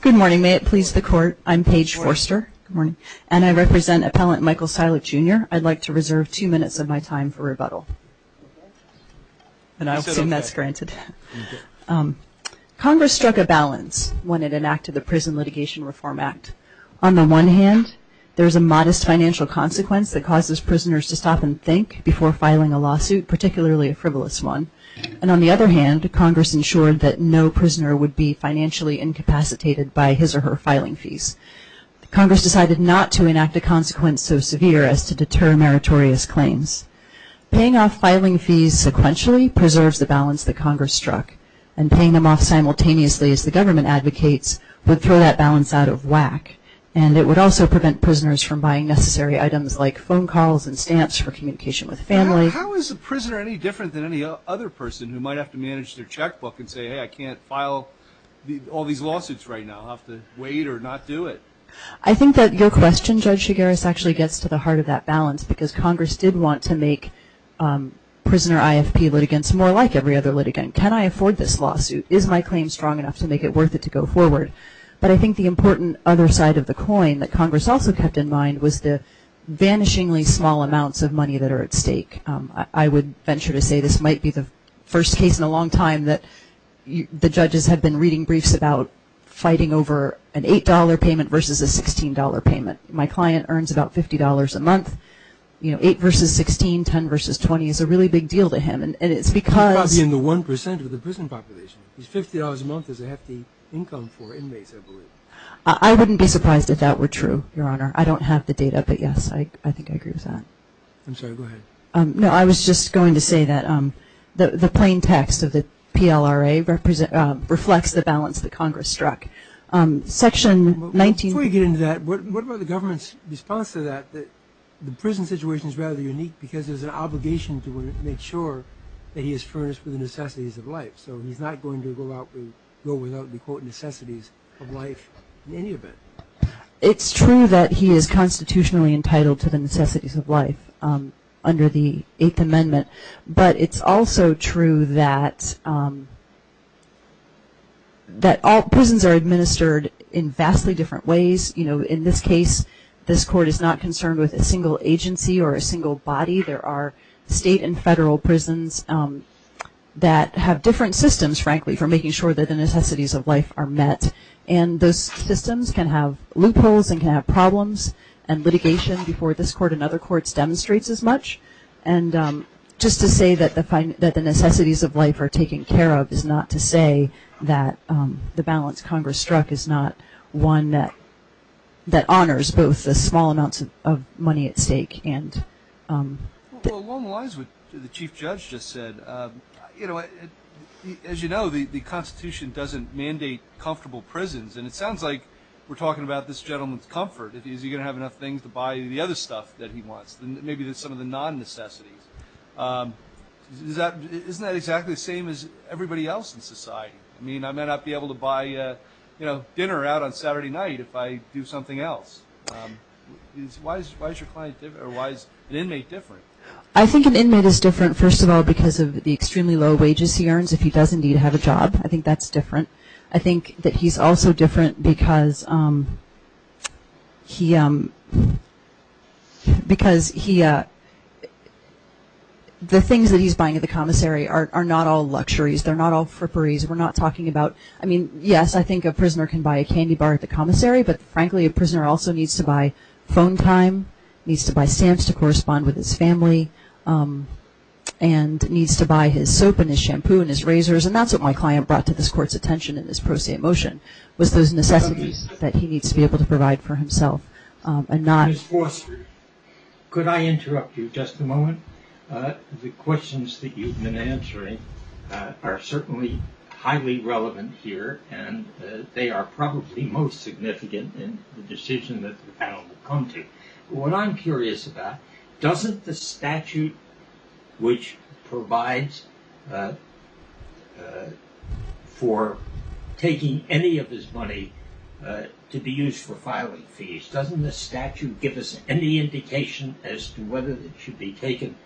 Good morning, may it please the court. I'm Paige Forster morning, and I represent appellant Michael Silek jr I'd like to reserve two minutes of my time for rebuttal And I'll assume that's granted Congress struck a balance when it enacted the Prison Litigation Reform Act on the one hand There's a modest financial consequence that causes prisoners to stop and think before filing a lawsuit Particularly a frivolous one and on the other hand Congress ensured that no prisoner would be financially incapacitated by his or her filing fees Congress decided not to enact a consequence so severe as to deter meritorious claims paying off filing fees sequentially preserves the balance the Congress struck and paying them off simultaneously as the government advocates would throw that balance out of Whack and it would also prevent prisoners from buying necessary items like phone calls and stamps for communication with family How is the prisoner any different than any other person who might have to manage their checkbook and say I can't file The all these lawsuits right now. I'll have to wait or not do it I think that your question judge Chigaris actually gets to the heart of that balance because Congress did want to make Prisoner IFP litigants more like every other litigant can I afford this lawsuit is my claim strong enough to make it worth it to go forward, but I think the important other side of the coin that Congress also kept in mind was the Vanishingly small amounts of money that are at stake. I would venture to say this might be the first case in a long time that The judges have been reading briefs about Fighting over an $8 payment versus a $16 payment my client earns about $50 a month You know 8 versus 16 10 versus 20 is a really big deal to him and it's because I'll be in the 1% of the prison Population is $50 a month is a hefty income for inmates. I believe I wouldn't be surprised if that were true your honor I don't have the data, but yes, I think I agree with that No, I was just going to say that the the plain text of the PLRA represent reflects the balance the Congress struck section 19 we get into that what about the government's response to that that the prison situation is rather unique because there's an Obligation to make sure that he is furnished with the necessities of life So he's not going to go out to go without the quote necessities of life in any event It's true that he is constitutionally entitled to the necessities of life Under the Eighth Amendment, but it's also true that That all prisons are administered in vastly different ways, you know in this case This court is not concerned with a single agency or a single body. There are state and federal prisons That have different systems frankly for making sure that the necessities of life are met and those systems can have loopholes and can have problems and litigation before this court and other courts demonstrates as much and just to say that the find that the necessities of life are taken care of is not to say that the balance Congress struck is not one that that honors both the small amounts of money at stake and Along the lines with the chief judge just said, you know As you know, the the Constitution doesn't mandate comfortable prisons and it sounds like we're talking about this gentleman's comfort Is he gonna have enough things to buy the other stuff that he wants then maybe there's some of the non necessities Is that isn't that exactly the same as everybody else in society? I mean, I might not be able to buy, you know dinner out on Saturday night if I do something else Why is your client different or why is an inmate different? I think an inmate is different first of all because of the extremely low wages He earns if he doesn't need to have a job. I think that's different. I think that he's also different because He Because he The things that he's buying at the commissary are not all luxuries, they're not all for paris We're not talking about I mean, yes I think a prisoner can buy a candy bar at the commissary but frankly a prisoner also needs to buy phone time needs to buy stamps to correspond with his family and Needs to buy his soap and his shampoo and his razors and that's what my client brought to this court's attention in this pro se Emotion was those necessities that he needs to be able to provide for himself and not Could I interrupt you just a moment? the questions that you've been answering Are certainly highly relevant here and they are probably most significant in the decision that What I'm curious about doesn't the statute which provides For Taking any of his money To be used for filing fees doesn't the statute give us any indication as to whether it should be taken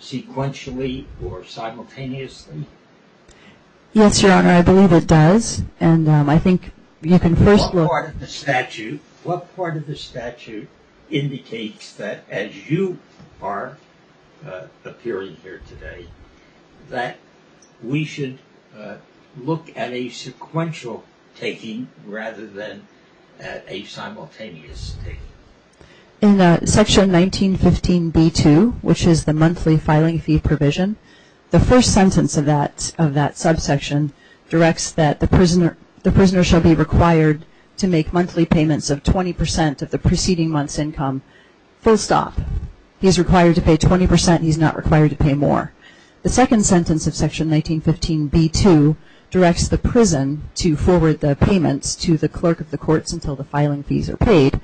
Sequentially or simultaneously Yes, your honor, I believe it does and I think you can first look at the statute what part of the statute indicates that as you are Appearing here today that we should look at a sequential taking rather than a In section 1915 b2 Which is the monthly filing fee provision the first sentence of that of that subsection? Directs that the prisoner the prisoner shall be required to make monthly payments of 20% of the preceding month's income Full stop he is required to pay 20% He's not required to pay more the second sentence of section 1915 b2 Directs the prison to forward the payments to the clerk of the courts until the filing fees are paid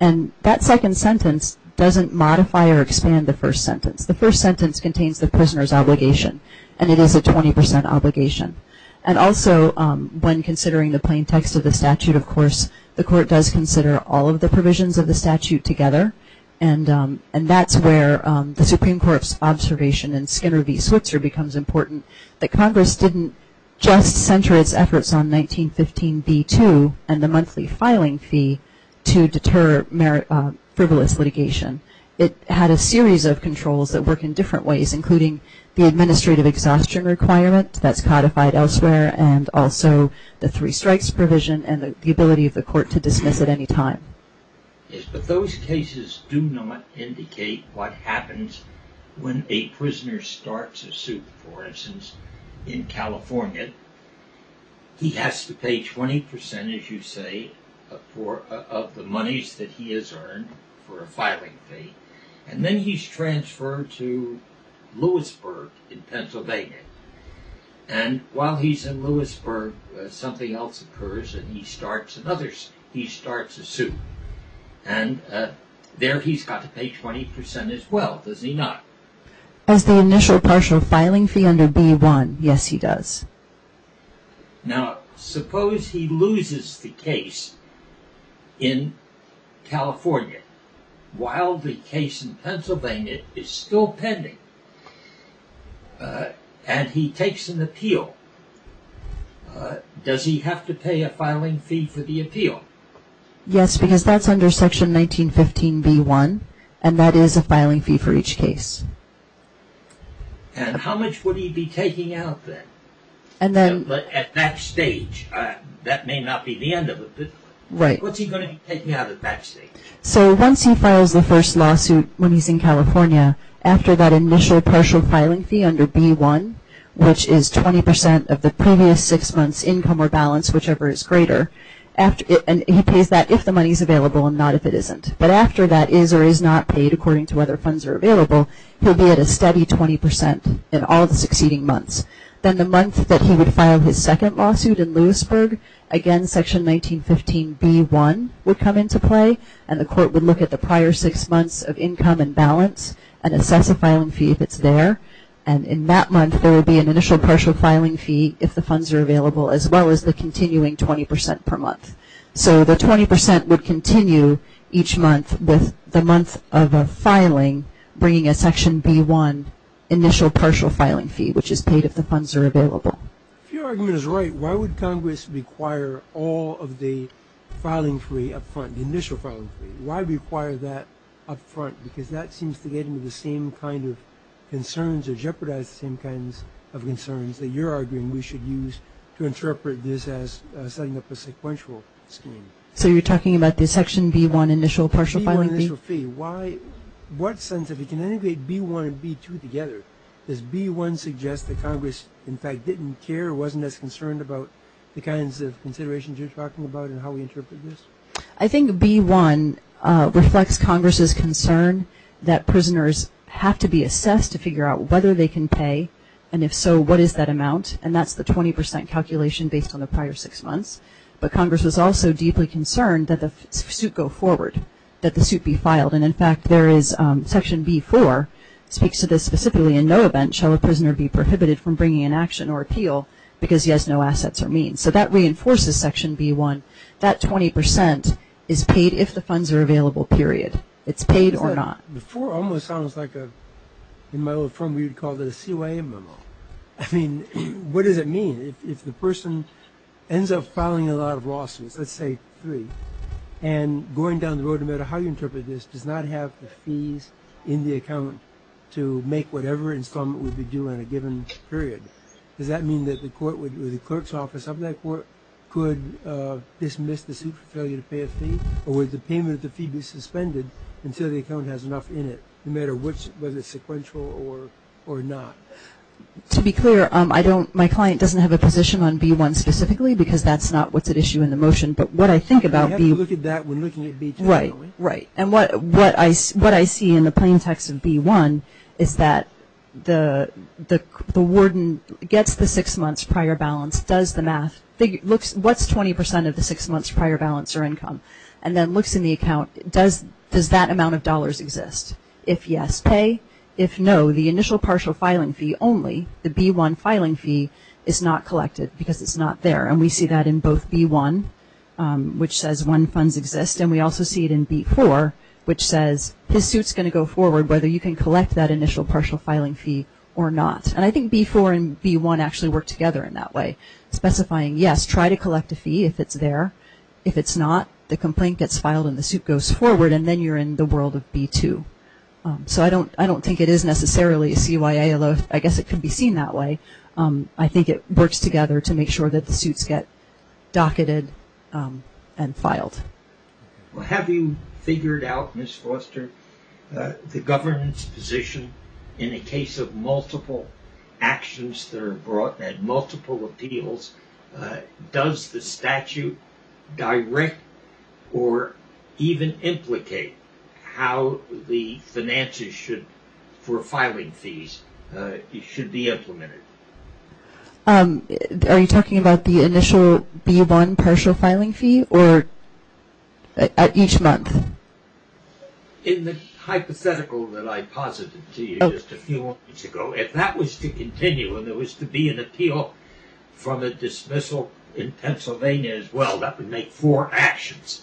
and That second sentence doesn't modify or expand the first sentence the first sentence contains the prisoners obligation And it is a 20% obligation and also when considering the plain text of the statute of course the court does consider all of the provisions of the statute together and And that's where the Supreme Court's observation in Skinner v. Switzer becomes important that Congress didn't just center its efforts on 1915 b2 and the monthly filing fee to deter merit Frivolous litigation it had a series of controls that work in different ways including the administrative exhaustion requirement That's codified elsewhere and also the three strikes provision and the ability of the court to dismiss at any time Yes, but those cases do not indicate what happens when a prisoner starts for instance in California He has to pay 20% as you say for of the monies that he is earned for a filing fee and then he's transferred to Lewisburg in Pennsylvania and while he's in Lewisburg something else occurs, and he starts another he starts a suit and There he's got to pay 20% as well does he not as the initial partial filing fee under b1. Yes, he does Now suppose he loses the case in California while the case in Pennsylvania is still pending And he takes an appeal Does he have to pay a filing fee for the appeal Yes, because that's under section 1915 b1 and that is a filing fee for each case And how much would he be taking out there and then at that stage that may not be the end of it, right? So once he files the first lawsuit when he's in California after that initial partial filing fee under b1 Which is 20% of the previous six months income or balance, whichever is greater After and he pays that if the money's available and not if it isn't but after that is or is not paid according to whether Funds are available. He'll be at a steady 20% in all the succeeding months Then the month that he would file his second lawsuit in Lewisburg again section 1915 b1 would come into play and the court would look at the prior six months of income and balance and Assess a filing fee if it's there and in that month There will be an initial partial filing fee if the funds are available as well as the continuing 20% per month So the 20% would continue each month with the month of a filing bringing a section b1 Initial partial filing fee which is paid if the funds are available Your argument is right. Why would Congress require all of the Filing free up front the initial phone. Why require that up front because that seems to get into the same kind of Of concerns that you're arguing. We should use to interpret this as setting up a sequential scheme So you're talking about the section b1 initial partial filing fee. Why? What sense if you can integrate b1 and b2 together this b1 suggests that Congress in fact didn't care wasn't as concerned about The kinds of considerations you're talking about and how we interpret this. I think b1 Reflects Congress's concern that prisoners have to be assessed to figure out whether they can pay and if so What is that amount and that's the 20% calculation based on the prior six months? But Congress was also deeply concerned that the suit go forward that the suit be filed and in fact There is section b4 Speaks to this specifically in no event shall a prisoner be prohibited from bringing an action or appeal Because he has no assets or means so that reinforces section b1 that 20% is paid If the funds are available period it's paid or not before almost sounds like a in my old firm We would call the CYA memo. I mean, what does it mean if the person? ends up filing a lot of lawsuits, let's say three and Going down the road no matter how you interpret this does not have the fees in the account To make whatever installment would be due in a given period Does that mean that the court would do the clerk's office of that court could? Dismiss the suit for failure to pay a fee or with the payment of the fee be suspended Until the account has enough in it no matter which whether it's sequential or or not To be clear. I don't my client doesn't have a position on b1 specifically because that's not what's at issue in the motion but what I think about Right, right and what what I what I see in the plaintext of b1 is that the Warden gets the six months prior balance does the math It looks what's 20% of the six months prior balance or income and then looks in the account It does does that amount of dollars exist if yes pay if no the initial partial filing fee only the b1 filing fee Is not collected because it's not there and we see that in both b1 Which says one funds exist and we also see it in b4 Which says his suits going to go forward whether you can collect that initial partial filing fee or not And I think b4 and b1 actually work together in that way Specifying yes Try to collect a fee if it's there if it's not the complaint gets filed and the suit goes forward and then you're in the world of b2 So I don't I don't think it is necessarily a CYA. Although I guess it could be seen that way I think it works together to make sure that the suits get docketed and filed Well, have you figured out miss Foster the governance position in a case of multiple actions that are brought and multiple appeals does the statute direct or Even implicate how the finances should for filing fees It should be implemented Are you talking about the initial b1 partial filing fee or at each month in the Hypothetical that I posited to you just a few weeks ago if that was to continue and there was to be an appeal from a dismissal in Pennsylvania as well that would make four actions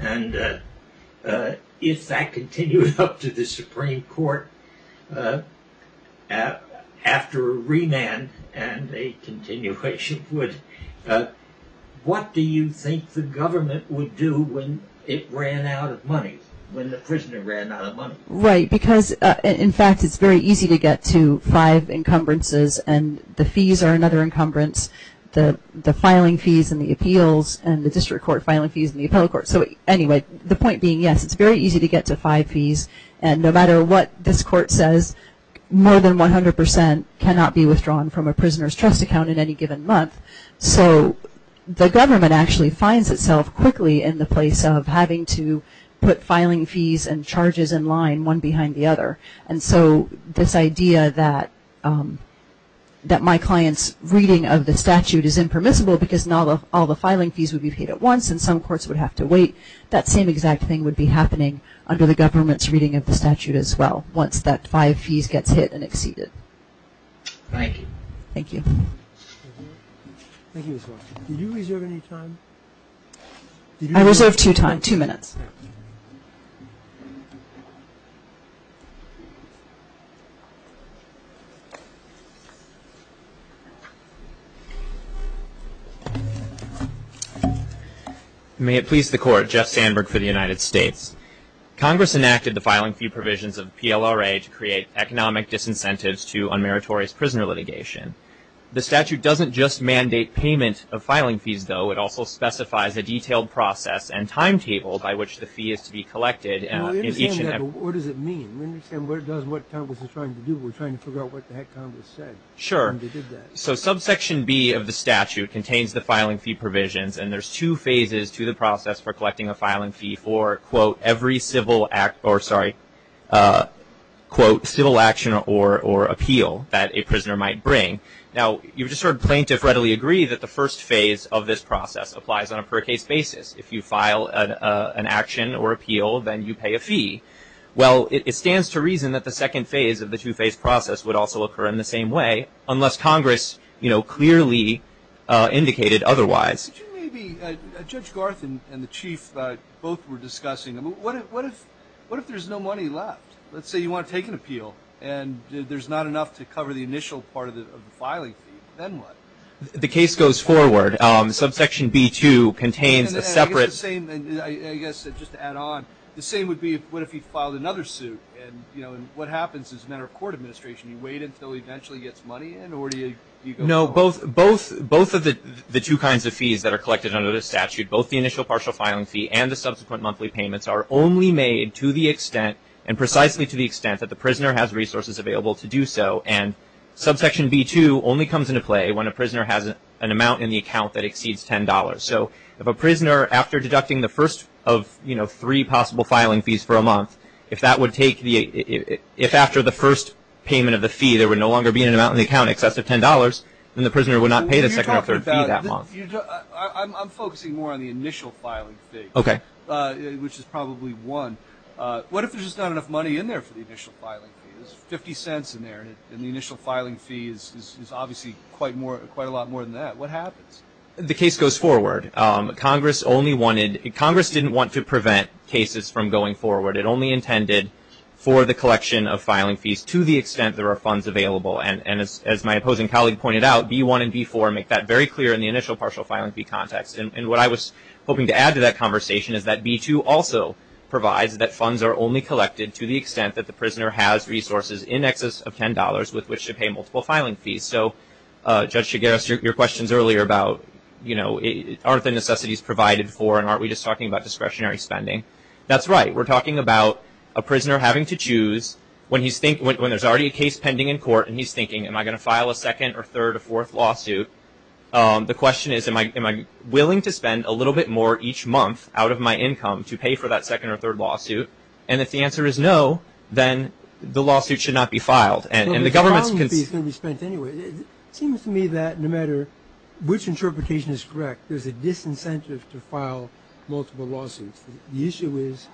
and If that continued up to the Supreme Court After a remand and a continuation would What do you think the government would do when it ran out of money when the prisoner ran out of money Right because in fact, it's very easy to get to five encumbrances and the fees are another encumbrance The the filing fees and the appeals and the district court filing fees in the appellate court So anyway, the point being yes, it's very easy to get to five fees and no matter what this court says More than 100% cannot be withdrawn from a prisoner's trust account in any given month. So the government actually finds itself quickly in the place of having to put filing fees and charges in line one behind the other and so this idea that That my clients reading of the statute is impermissible because not all the filing fees would be paid at once and some courts would have To wait that same exact thing would be happening under the government's reading of the statute as well. Once that five fees gets hit and exceeded Thank you. Thank you I reserve two time two minutes You May it please the court Jeff Sandberg for the United States Congress enacted the filing fee provisions of PLRA to create economic disincentives to unmeritorious prisoner litigation The statute doesn't just mandate payment of filing fees though It also specifies a detailed process and timetable by which the fee is to be collected Sure so subsection B of the statute contains the filing fee provisions and there's two phases to the process for collecting a filing fee for Quote every civil act or sorry Quote civil action or or appeal that a prisoner might bring now You've just heard plaintiff readily agree that the first phase of this process applies on a per case basis if you file an Action or appeal then you pay a fee Well, it stands to reason that the second phase of the two-phase process would also occur in the same way unless Congress, you know, clearly indicated otherwise Judge Garth and the chief both were discussing them. What if what if what if there's no money left? Let's say you want to take an appeal and there's not enough to cover the initial part of the filing The case goes forward on subsection B to contains a separate The same would be what if he filed another suit and you know And what happens is a matter of court administration you wait until he eventually gets money in or do you know both both? both of the the two kinds of fees that are collected under the statute both the initial partial filing fee and the subsequent monthly payments are only made to the extent and precisely to the extent that the prisoner has resources available to do so and Subsection b2 only comes into play when a prisoner has an amount in the account that exceeds $10 so if a prisoner after deducting the first of you know Three possible filing fees for a month if that would take the if after the first Payment of the fee there would no longer be an amount in the account excessive $10 And the prisoner would not pay the second or third that month I'm focusing more on the initial filing fee. Okay, which is probably one What if there's not enough money in there for the initial filing? 50 cents in there and the initial filing fees is obviously quite more quite a lot more than that What happens the case goes forward Congress only wanted Congress didn't want to prevent cases from going forward It only intended for the collection of filing fees to the extent there are funds available and and as my opposing colleague pointed out b1 and b4 make that very clear in the initial partial filing fee context and what I was hoping to add to that conversation is that b2 also Provides that funds are only collected to the extent that the prisoner has resources in excess of $10 with which to pay multiple filing fees So judge should get us your questions earlier about you know It aren't the necessities provided for and aren't we just talking about discretionary spending? That's right We're talking about a prisoner having to choose When he's think when there's already a case pending in court and he's thinking am I gonna file a second or third or fourth? lawsuit the question is am I am I willing to spend a little bit more each month out of my income to pay for that second or third lawsuit and if the answer Is no, then the lawsuit should not be filed and the government's Seems to me that no matter which interpretation is correct. There's a disincentive to file multiple lawsuits The issue is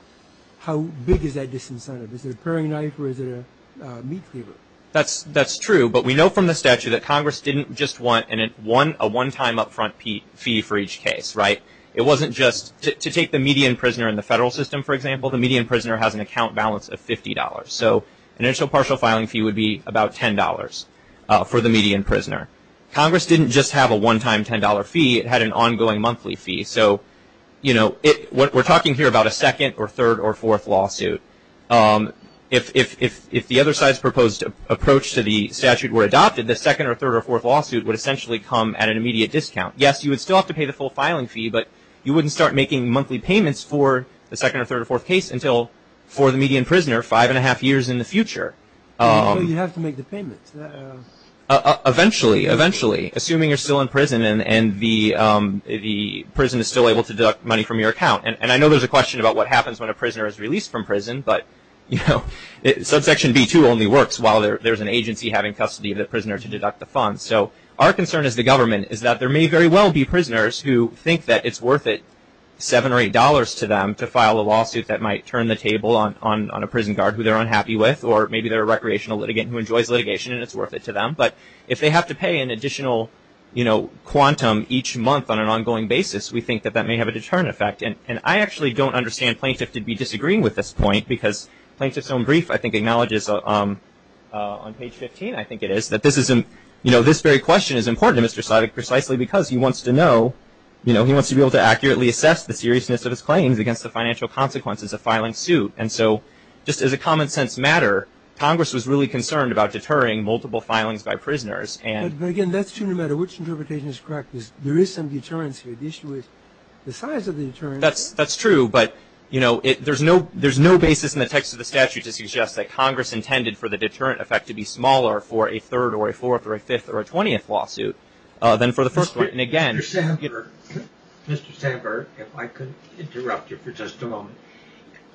how big is that disincentive? Is it a prairie knife or is it a meat cleaver? That's that's true But we know from the statute that Congress didn't just want and it won a one-time upfront fee for each case, right? It wasn't just to take the median prisoner in the federal system For example, the median prisoner has an account balance of $50. So an initial partial filing fee would be about $10 For the median prisoner Congress didn't just have a one-time $10 fee. It had an ongoing monthly fee So, you know it what we're talking here about a second or third or fourth lawsuit If if if the other side's proposed approach to the statute were adopted the second or third or fourth lawsuit would essentially come at an Immediate discount. Yes, you would still have to pay the full filing fee But you wouldn't start making monthly payments for the second or third or fourth case until for the median prisoner five and a half years in the future Eventually eventually assuming you're still in prison and and the The prison is still able to deduct money from your account And I know there's a question about what happens when a prisoner is released from prison But you know subsection b2 only works while there's an agency having custody of the prisoner to deduct the funds So our concern is the government is that there may very well be prisoners who think that it's worth it Seven or eight dollars to them to file a lawsuit that might turn the table on a prison guard who they're unhappy with or maybe They're a recreational litigant who enjoys litigation and it's worth it to them But if they have to pay an additional, you know quantum each month on an ongoing basis we think that that may have a deterrent effect and and I actually don't understand plaintiff to be disagreeing with this point because Plaintiff's own brief I think acknowledges On page 15. I think it is that this isn't you know, this very question is important. Mr Slavik precisely because he wants to know You know He wants to be able to accurately assess the seriousness of his claims against the financial consequences of filing suit And so just as a common-sense matter Congress was really concerned about deterring multiple filings by prisoners and again, that's true no matter which interpretation is correct There is some deterrence here. The issue is the size of the turn. That's that's true but you know if there's no there's no basis in the text of the statute to suggest that Congress intended for the deterrent effect to be smaller for a Third or a fourth or a fifth or a twentieth lawsuit then for the first one and again Mr. Sandberg if I could interrupt you for just a moment.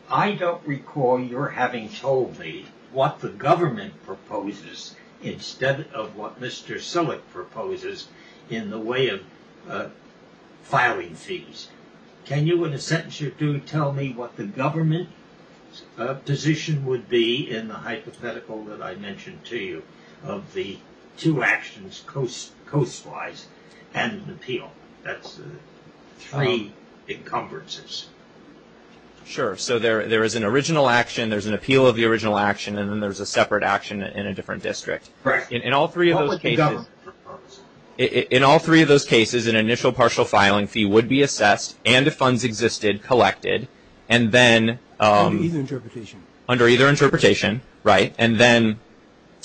I Don't recall your having told me what the government proposes Instead of what? Mr. So it proposes in the way of Filing fees. Can you in a sentence you do tell me what the government? position would be in the hypothetical that I mentioned to you of the two actions coast coast wise and appeal that's three encumbrances Sure, so there there is an original action There's an appeal of the original action and then there's a separate action in a different district, right in all three of those cases in all three of those cases an initial partial filing fee would be assessed and if funds existed collected and then Under either interpretation, right and then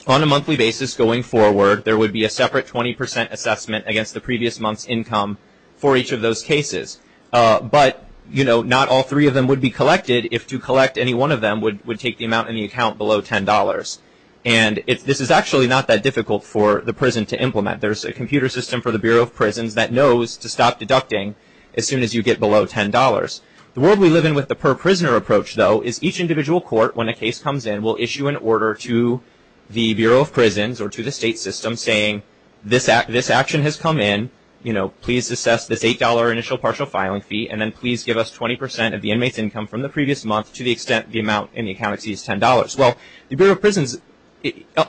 On a monthly basis going forward. There would be a separate 20% assessment against the previous month's income for each of those cases but you know not all three of them would be collected if to collect any one of them would would take the amount in the account below $10 and If this is actually not that difficult for the prison to implement There's a computer system for the Bureau of Prisons that knows to stop deducting as soon as you get below $10 The world we live in with the per prisoner approach though is each individual court when a case comes in will issue an order to The Bureau of Prisons or to the state system saying this act this action has come in, you know Please assess this $8 initial partial filing fee and then please give us 20% of the inmates income from the previous month to the extent The amount in the account exceeds $10. Well the Bureau of Prisons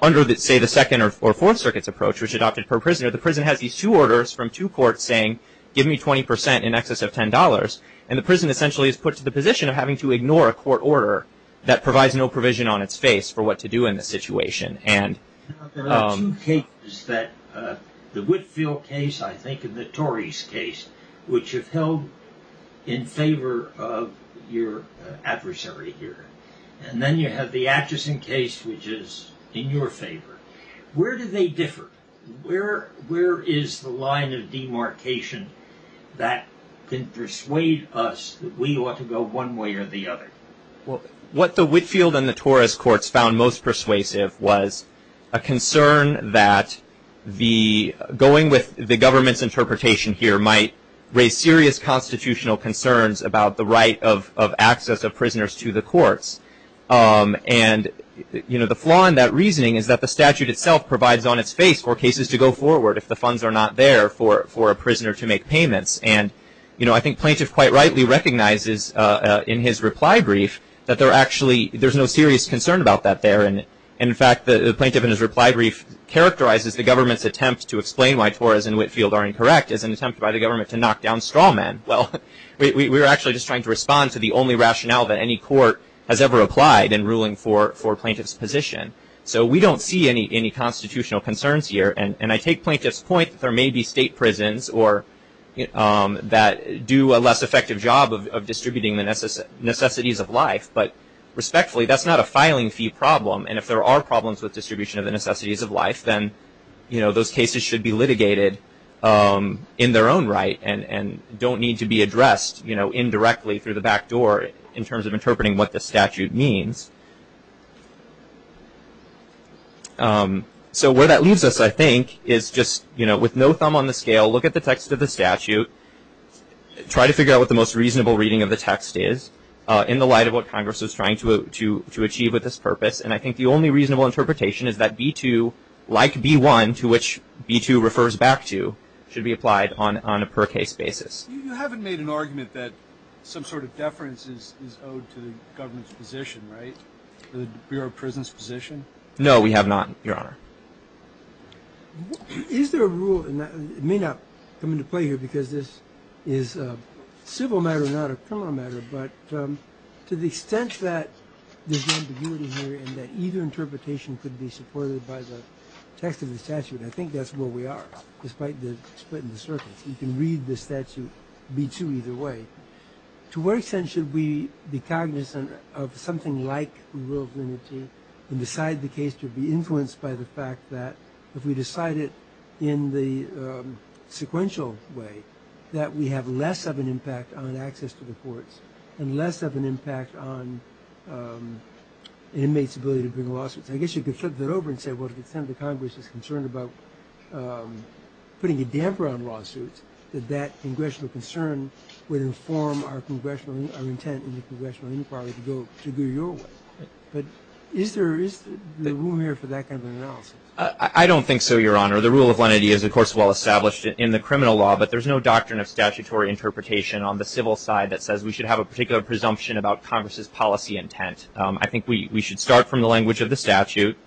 Under that say the second or fourth circuits approach which adopted per prisoner The prison has these two orders from two courts saying give me 20% in excess of $10 and the prison essentially is put to the position of having to ignore a court order that provides no provision on its face for what to do in this situation and Okay, is that The Whitfield case I think in the Tories case which have held in favor of your Adversary here and then you have the Atchison case which is in your favor. Where do they differ? Where where is the line of demarcation that can persuade us that we ought to go one way or the other? Well what the Whitfield and the Torres courts found most persuasive was a concern that the going with the government's interpretation here might raise serious constitutional concerns about the right of access of prisoners to the courts and you know the flaw in that reasoning is that the statute itself provides on its face for cases to go forward if the funds are Not there for for a prisoner to make payments and you know, I think plaintiff quite rightly recognizes in his reply brief That they're actually there's no serious concern about that there And in fact the plaintiff in his reply brief Characterizes the government's attempt to explain why Torres and Whitfield are incorrect as an attempt by the government to knock down straw men Well, we were actually just trying to respond to the only rationale that any court has ever applied in ruling for for plaintiffs position so we don't see any any constitutional concerns here and and I take plaintiffs point that there may be state prisons or That do a less effective job of distributing the necessary necessities of life, but respectfully That's not a filing fee problem. And if there are problems with distribution of the necessities of life, then, you know Those cases should be litigated In their own right and and don't need to be addressed, you know Indirectly through the back door in terms of interpreting what the statute means So Where that leaves us I think is just you know with no thumb on the scale look at the text of the statute Try to figure out what the most reasonable reading of the text is In the light of what Congress is trying to to to achieve with this purpose And I think the only reasonable interpretation is that b2 Like b1 to which b2 refers back to should be applied on on a per case basis You haven't made an argument that some sort of deference is owed to the government's position, right? The Bureau of Prisons position. No, we have not your honor Is there a rule and that may not come into play here because this is a civil matter not a criminal matter, but to the extent that Either interpretation could be supported by the text of the statute I think that's where we are despite the split in the circuits. You can read the statute b2 either way To what extent should we be cognizant of something like rule of limited and decide the case to be influenced by the fact that if we decide it in the sequential way that we have less of an impact on access to the courts and less of an impact on Inmates ability to bring lawsuits, I guess you could flip that over and say what if it's him the Congress is concerned about Putting a damper on lawsuits that that congressional concern would inform our congressional But is there is the room here for that kind of analysis I don't think so your honor the rule of lenity is of course well established in the criminal law But there's no doctrine of statutory interpretation on the civil side that says we should have a particular presumption about Congress's policy intent I think we should start from the language of the statute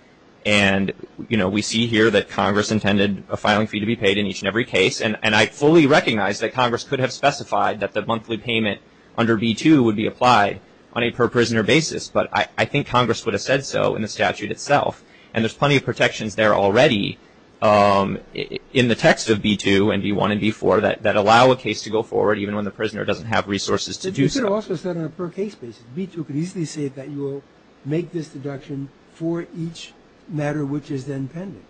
and You know We see here that Congress intended a filing fee to be paid in each and every case and and I fully Recognize that Congress could have specified that the monthly payment under b2 would be applied on a per prisoner basis But I think Congress would have said so in the statute itself and there's plenty of protections there already In the text of b2 and b1 and b4 that that allow a case to go forward even when the prisoner doesn't have resources to Do so also set on a per case basis b2 could easily say that you will make this deduction for each matter, which is then pending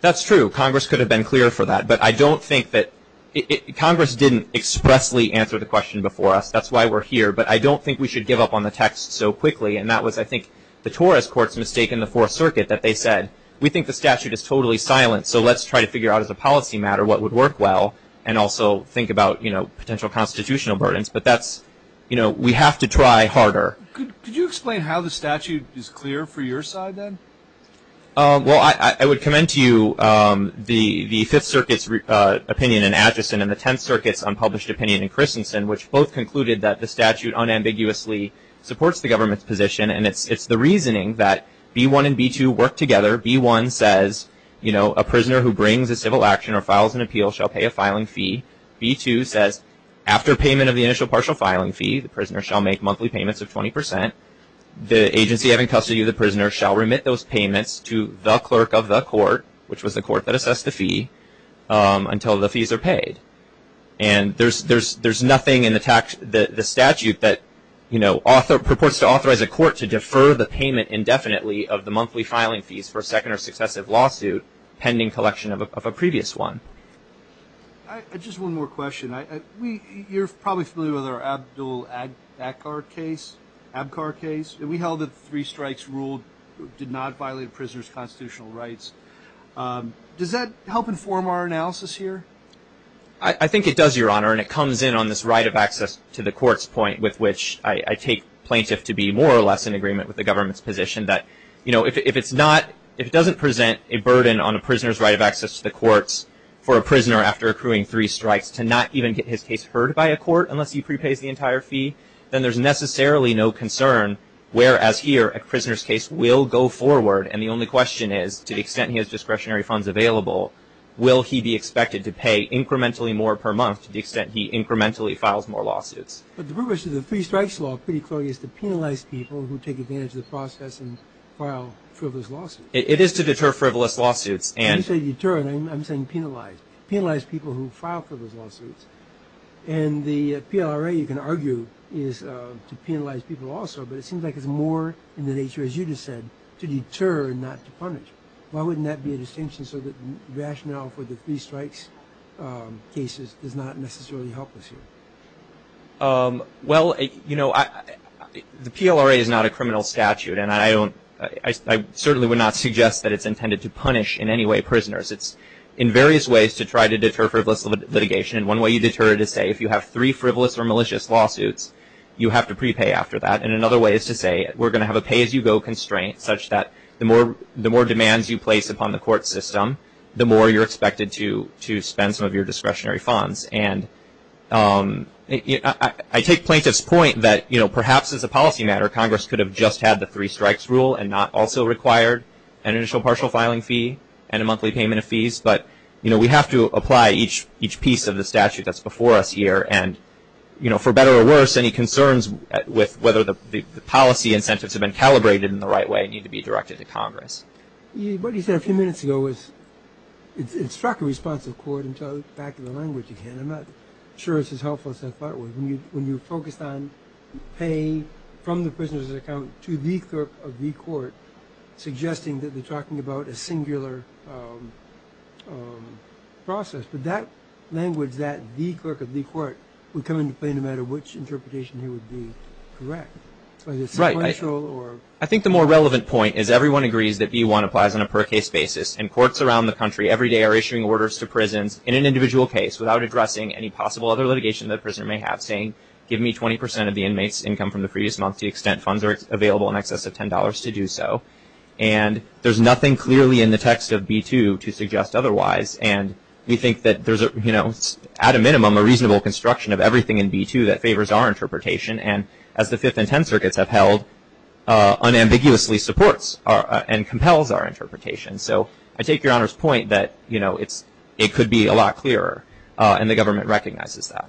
that's true Congress could have been clear for that, but I don't think that Congress didn't expressly answer the question before us That's why we're here But I don't think we should give up on the text so quickly and that was I think the Torres courts mistaken the Fourth Circuit That they said we think the statute is totally silent So let's try to figure out as a policy matter what would work well and also think about you know potential constitutional burdens But that's you know, we have to try harder. Could you explain how the statute is clear for your side then? Well, I would commend to you the the Fifth Circuit's Opinion in Atchison and the Tenth Circuit's unpublished opinion in Christensen which both concluded that the statute unambiguously Supports the government's position and it's it's the reasoning that b1 and b2 work together b1 says You know a prisoner who brings a civil action or files an appeal shall pay a filing fee B2 says after payment of the initial partial filing fee the prisoner shall make monthly payments of 20% The agency having custody of the prisoner shall remit those payments to the clerk of the court, which was the court that assessed the fee until the fees are paid and There's there's there's nothing in the tax that the statute that you know author purports to authorize a court to defer the payment Indefinitely of the monthly filing fees for a second or successive lawsuit pending collection of a previous one Just one more question. I we you're probably familiar with our Abdul Ackar case ab car case we held that three strikes ruled did not violate prisoners constitutional rights Does that help inform our analysis here? I? Think it does your honor and it comes in on this right of access to the courts point with which I take plaintiff to be more or less in agreement with the government's position that you know If it's not if it doesn't present a burden on a prisoner's right of access to the courts For a prisoner after accruing three strikes to not even get his case heard by a court unless he prepays the entire fee then there's Necessarily no concern whereas here a prisoner's case will go forward and the only question is to the extent he has discretionary funds available Will he be expected to pay incrementally more per month to the extent? He incrementally files more lawsuits But the purpose of the three strikes law pretty clearly is to penalize people who take advantage of the process and file It is to deter frivolous lawsuits and deter and I'm saying penalize penalize people who file for those lawsuits and The PLRA you can argue is to penalize people also But it seems like it's more in the nature as you just said to deter not to punish Why wouldn't that be a distinction so that rationale for the three strikes? Cases does not necessarily help us here Well, you know I The PLRA is not a criminal statute and I don't I Certainly would not suggest that it's intended to punish in any way prisoners It's in various ways to try to deter frivolous litigation And one way you deter it is say if you have three frivolous or malicious lawsuits You have to prepay after that and another way is to say we're gonna have a pay-as-you-go Constraint such that the more the more demands you place upon the court system the more you're expected to to spend some of your discretionary funds and Yeah, I take plaintiffs point that you know Perhaps as a policy matter Congress could have just had the three strikes rule and not also required an initial partial filing fee and a Monthly payment of fees, but you know, we have to apply each each piece of the statute that's before us here and You know for better or worse any concerns With whether the policy incentives have been calibrated in the right way need to be directed to Congress What he said a few minutes ago was It struck a response of court until back to the language you can I'm not sure it's as helpful as I thought when you when you focused on Pay from the prisoner's account to the clerk of the court Suggesting that they're talking about a singular Process but that language that the clerk of the court would come into play no matter which interpretation you would be correct I Think the more relevant point is everyone agrees that you want applies on a per case basis and courts around the country every day are issuing orders to prisons in an individual case without addressing any possible other litigation that prisoner may have saying give me 20% of the inmates income from the previous month the extent funds are available in excess of $10 to do so and There's nothing clearly in the text of b2 to suggest otherwise and we think that there's a you know It's at a minimum a reasonable construction of everything in b2 that favors our interpretation and as the fifth and ten circuits have held Unambiguously supports and compels our interpretation So I take your honor's point that you know, it's it could be a lot clearer and the government recognizes that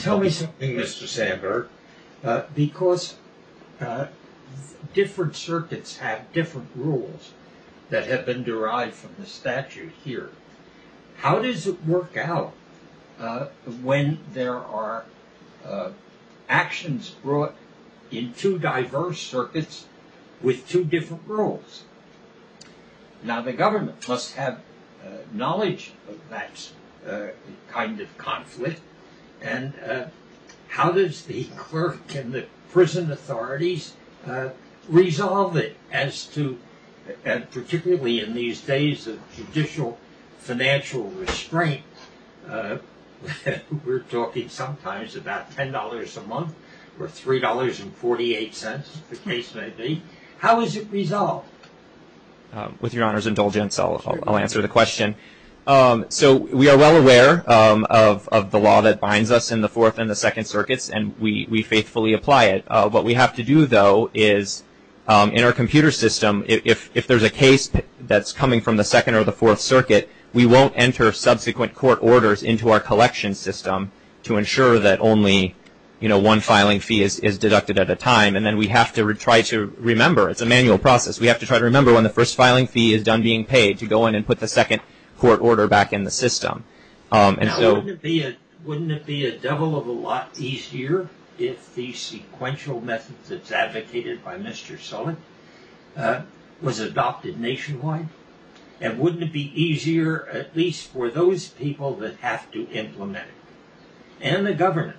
Tell me something. Mr. Sandberg because Different circuits have different rules that have been derived from the statute here. How does it work out? when there are Actions brought in two diverse circuits with two different rules now the government must have knowledge of that kind of conflict and How does the clerk and the prison authorities? Resolve it as to and particularly in these days of judicial financial restraint If we're talking sometimes about ten dollars a month or three dollars and 48 cents the case may be How is it resolved? With your honor's indulgence. I'll answer the question So we are well aware of the law that binds us in the fourth and the second circuits and we faithfully apply it what we have to do though is In our computer system if there's a case that's coming from the second or the fourth circuit We won't enter subsequent court orders into our collection system to ensure that only You know one filing fee is deducted at a time and then we have to try to remember it's a manual process We have to try to remember when the first filing fee is done being paid to go in and put the second Court order back in the system And so wouldn't it be a devil of a lot easier if the sequential methods that's advocated by Mr. Sullen Was adopted nationwide and wouldn't it be easier at least for those people that have to implement it and the government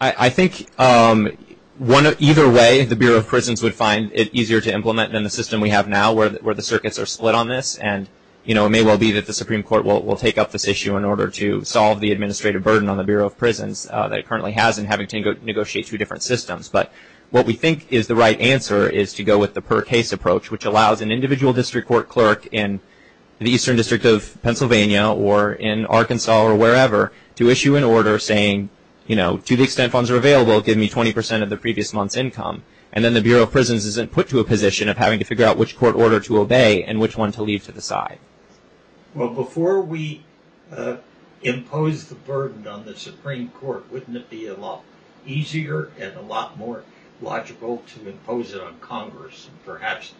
I think One of either way the Bureau of Prisons would find it easier to implement than the system We have now where the circuits are split on this and you know It may well be that the Supreme Court will take up this issue in order to solve the administrative burden on the Bureau of Prisons That it currently has and having to negotiate two different systems but what we think is the right answer is to go with the per case approach which allows an individual district court clerk in the Eastern District of Pennsylvania or in Arkansas or wherever to issue an order saying you know to the extent funds are available give me 20% of the previous month's income and then the Bureau of Prisons isn't put to a Position of having to figure out which court order to obey and which one to leave to the side well before we Impose the burden on the Supreme Court wouldn't it be a lot easier and a lot more logical to impose it on Congress perhaps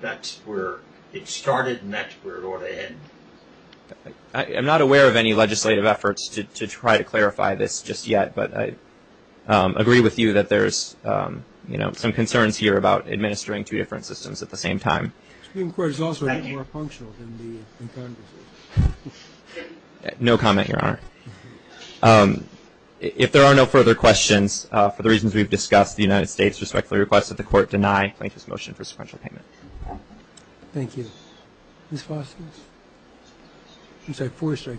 That's where it started and that's where it ought to end I'm not aware of any legislative efforts to try to clarify this just yet, but I Agree with you that there's you know some concerns here about administering two different systems at the same time No comment your honor If there are no further questions For the reasons we've discussed the United States respectfully request that the court deny plaintiff's motion for sequential payment Thank you You say Forrester,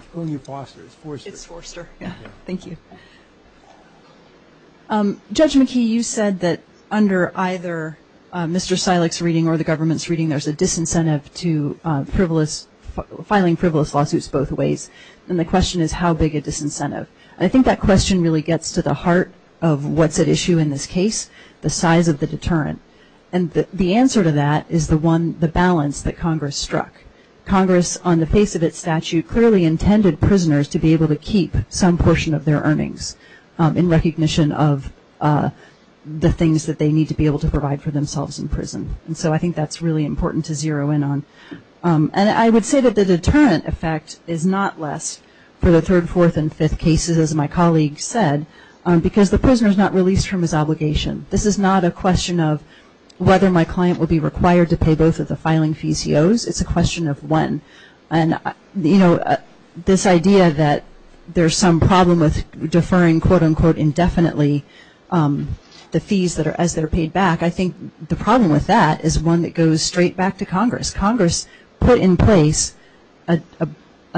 it's Forrester. Thank you Judge McKee you said that under either Mr. Silex reading or the government's reading there's a disincentive to Frivolous filing frivolous lawsuits both ways and the question is how big a disincentive? I think that question really gets to the heart of what's at issue in this case the size of the deterrent and The answer to that is the one the balance that Congress struck Congress on the face of its statute clearly intended prisoners to be able to keep some portion of their earnings in recognition of The things that they need to be able to provide for themselves in prison And so I think that's really important to zero in on And I would say that the deterrent effect is not less for the third fourth and fifth cases as my colleague said Because the prisoners not released from his obligation This is not a question of whether my client will be required to pay both of the filing fees he owes it's a question of when and You know this idea that there's some problem with deferring quote-unquote indefinitely The fees that are as they're paid back I think the problem with that is one that goes straight back to Congress Congress put in place a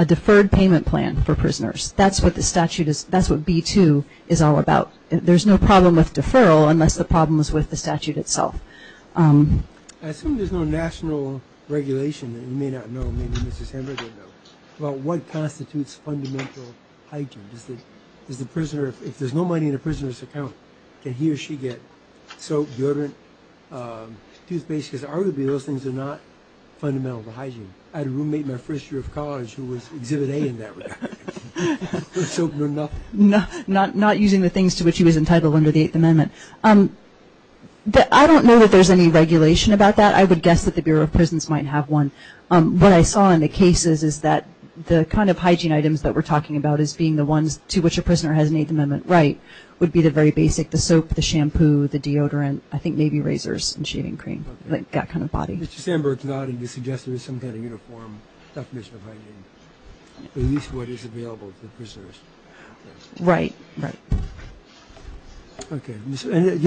Deferred payment plan for prisoners. That's what the statute is. That's what b2 is all about There's no problem with deferral unless the problem is with the statute itself Assume there's no national regulation that you may not know Well, what constitutes fundamental hygiene is that is the prisoner if there's no money in a prisoner's account Can he or she get so deodorant Toothpaste because arguably those things are not Fundamental to hygiene I had a roommate my first year of college who was exhibit a in that No, not not using the things to which he was entitled under the Eighth Amendment, um But I don't know that there's any regulation about that That the Bureau of Prisons might have one what I saw in the cases is that The kind of hygiene items that we're talking about is being the ones to which a prisoner has an Eighth Amendment, right? Would be the very basic the soap the shampoo the deodorant. I think maybe razors and shaving cream like that kind of body Right, right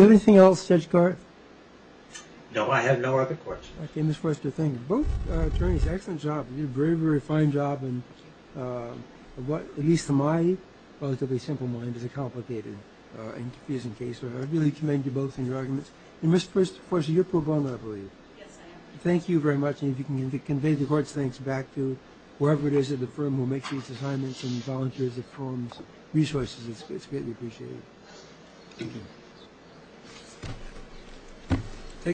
Anything else judge Garth No, I have no other questions in this first two things both attorneys excellent job. You're very very fine job and What at least to my relatively simple mind is a complicated and confusing case But I really commend you both in your arguments and mr. First of course, you're pro bono, I believe Thank you very much. If you can convey the court's thanks back to whoever it is at the firm who makes these assignments and volunteers It forms resources. It's great. We appreciate Thank you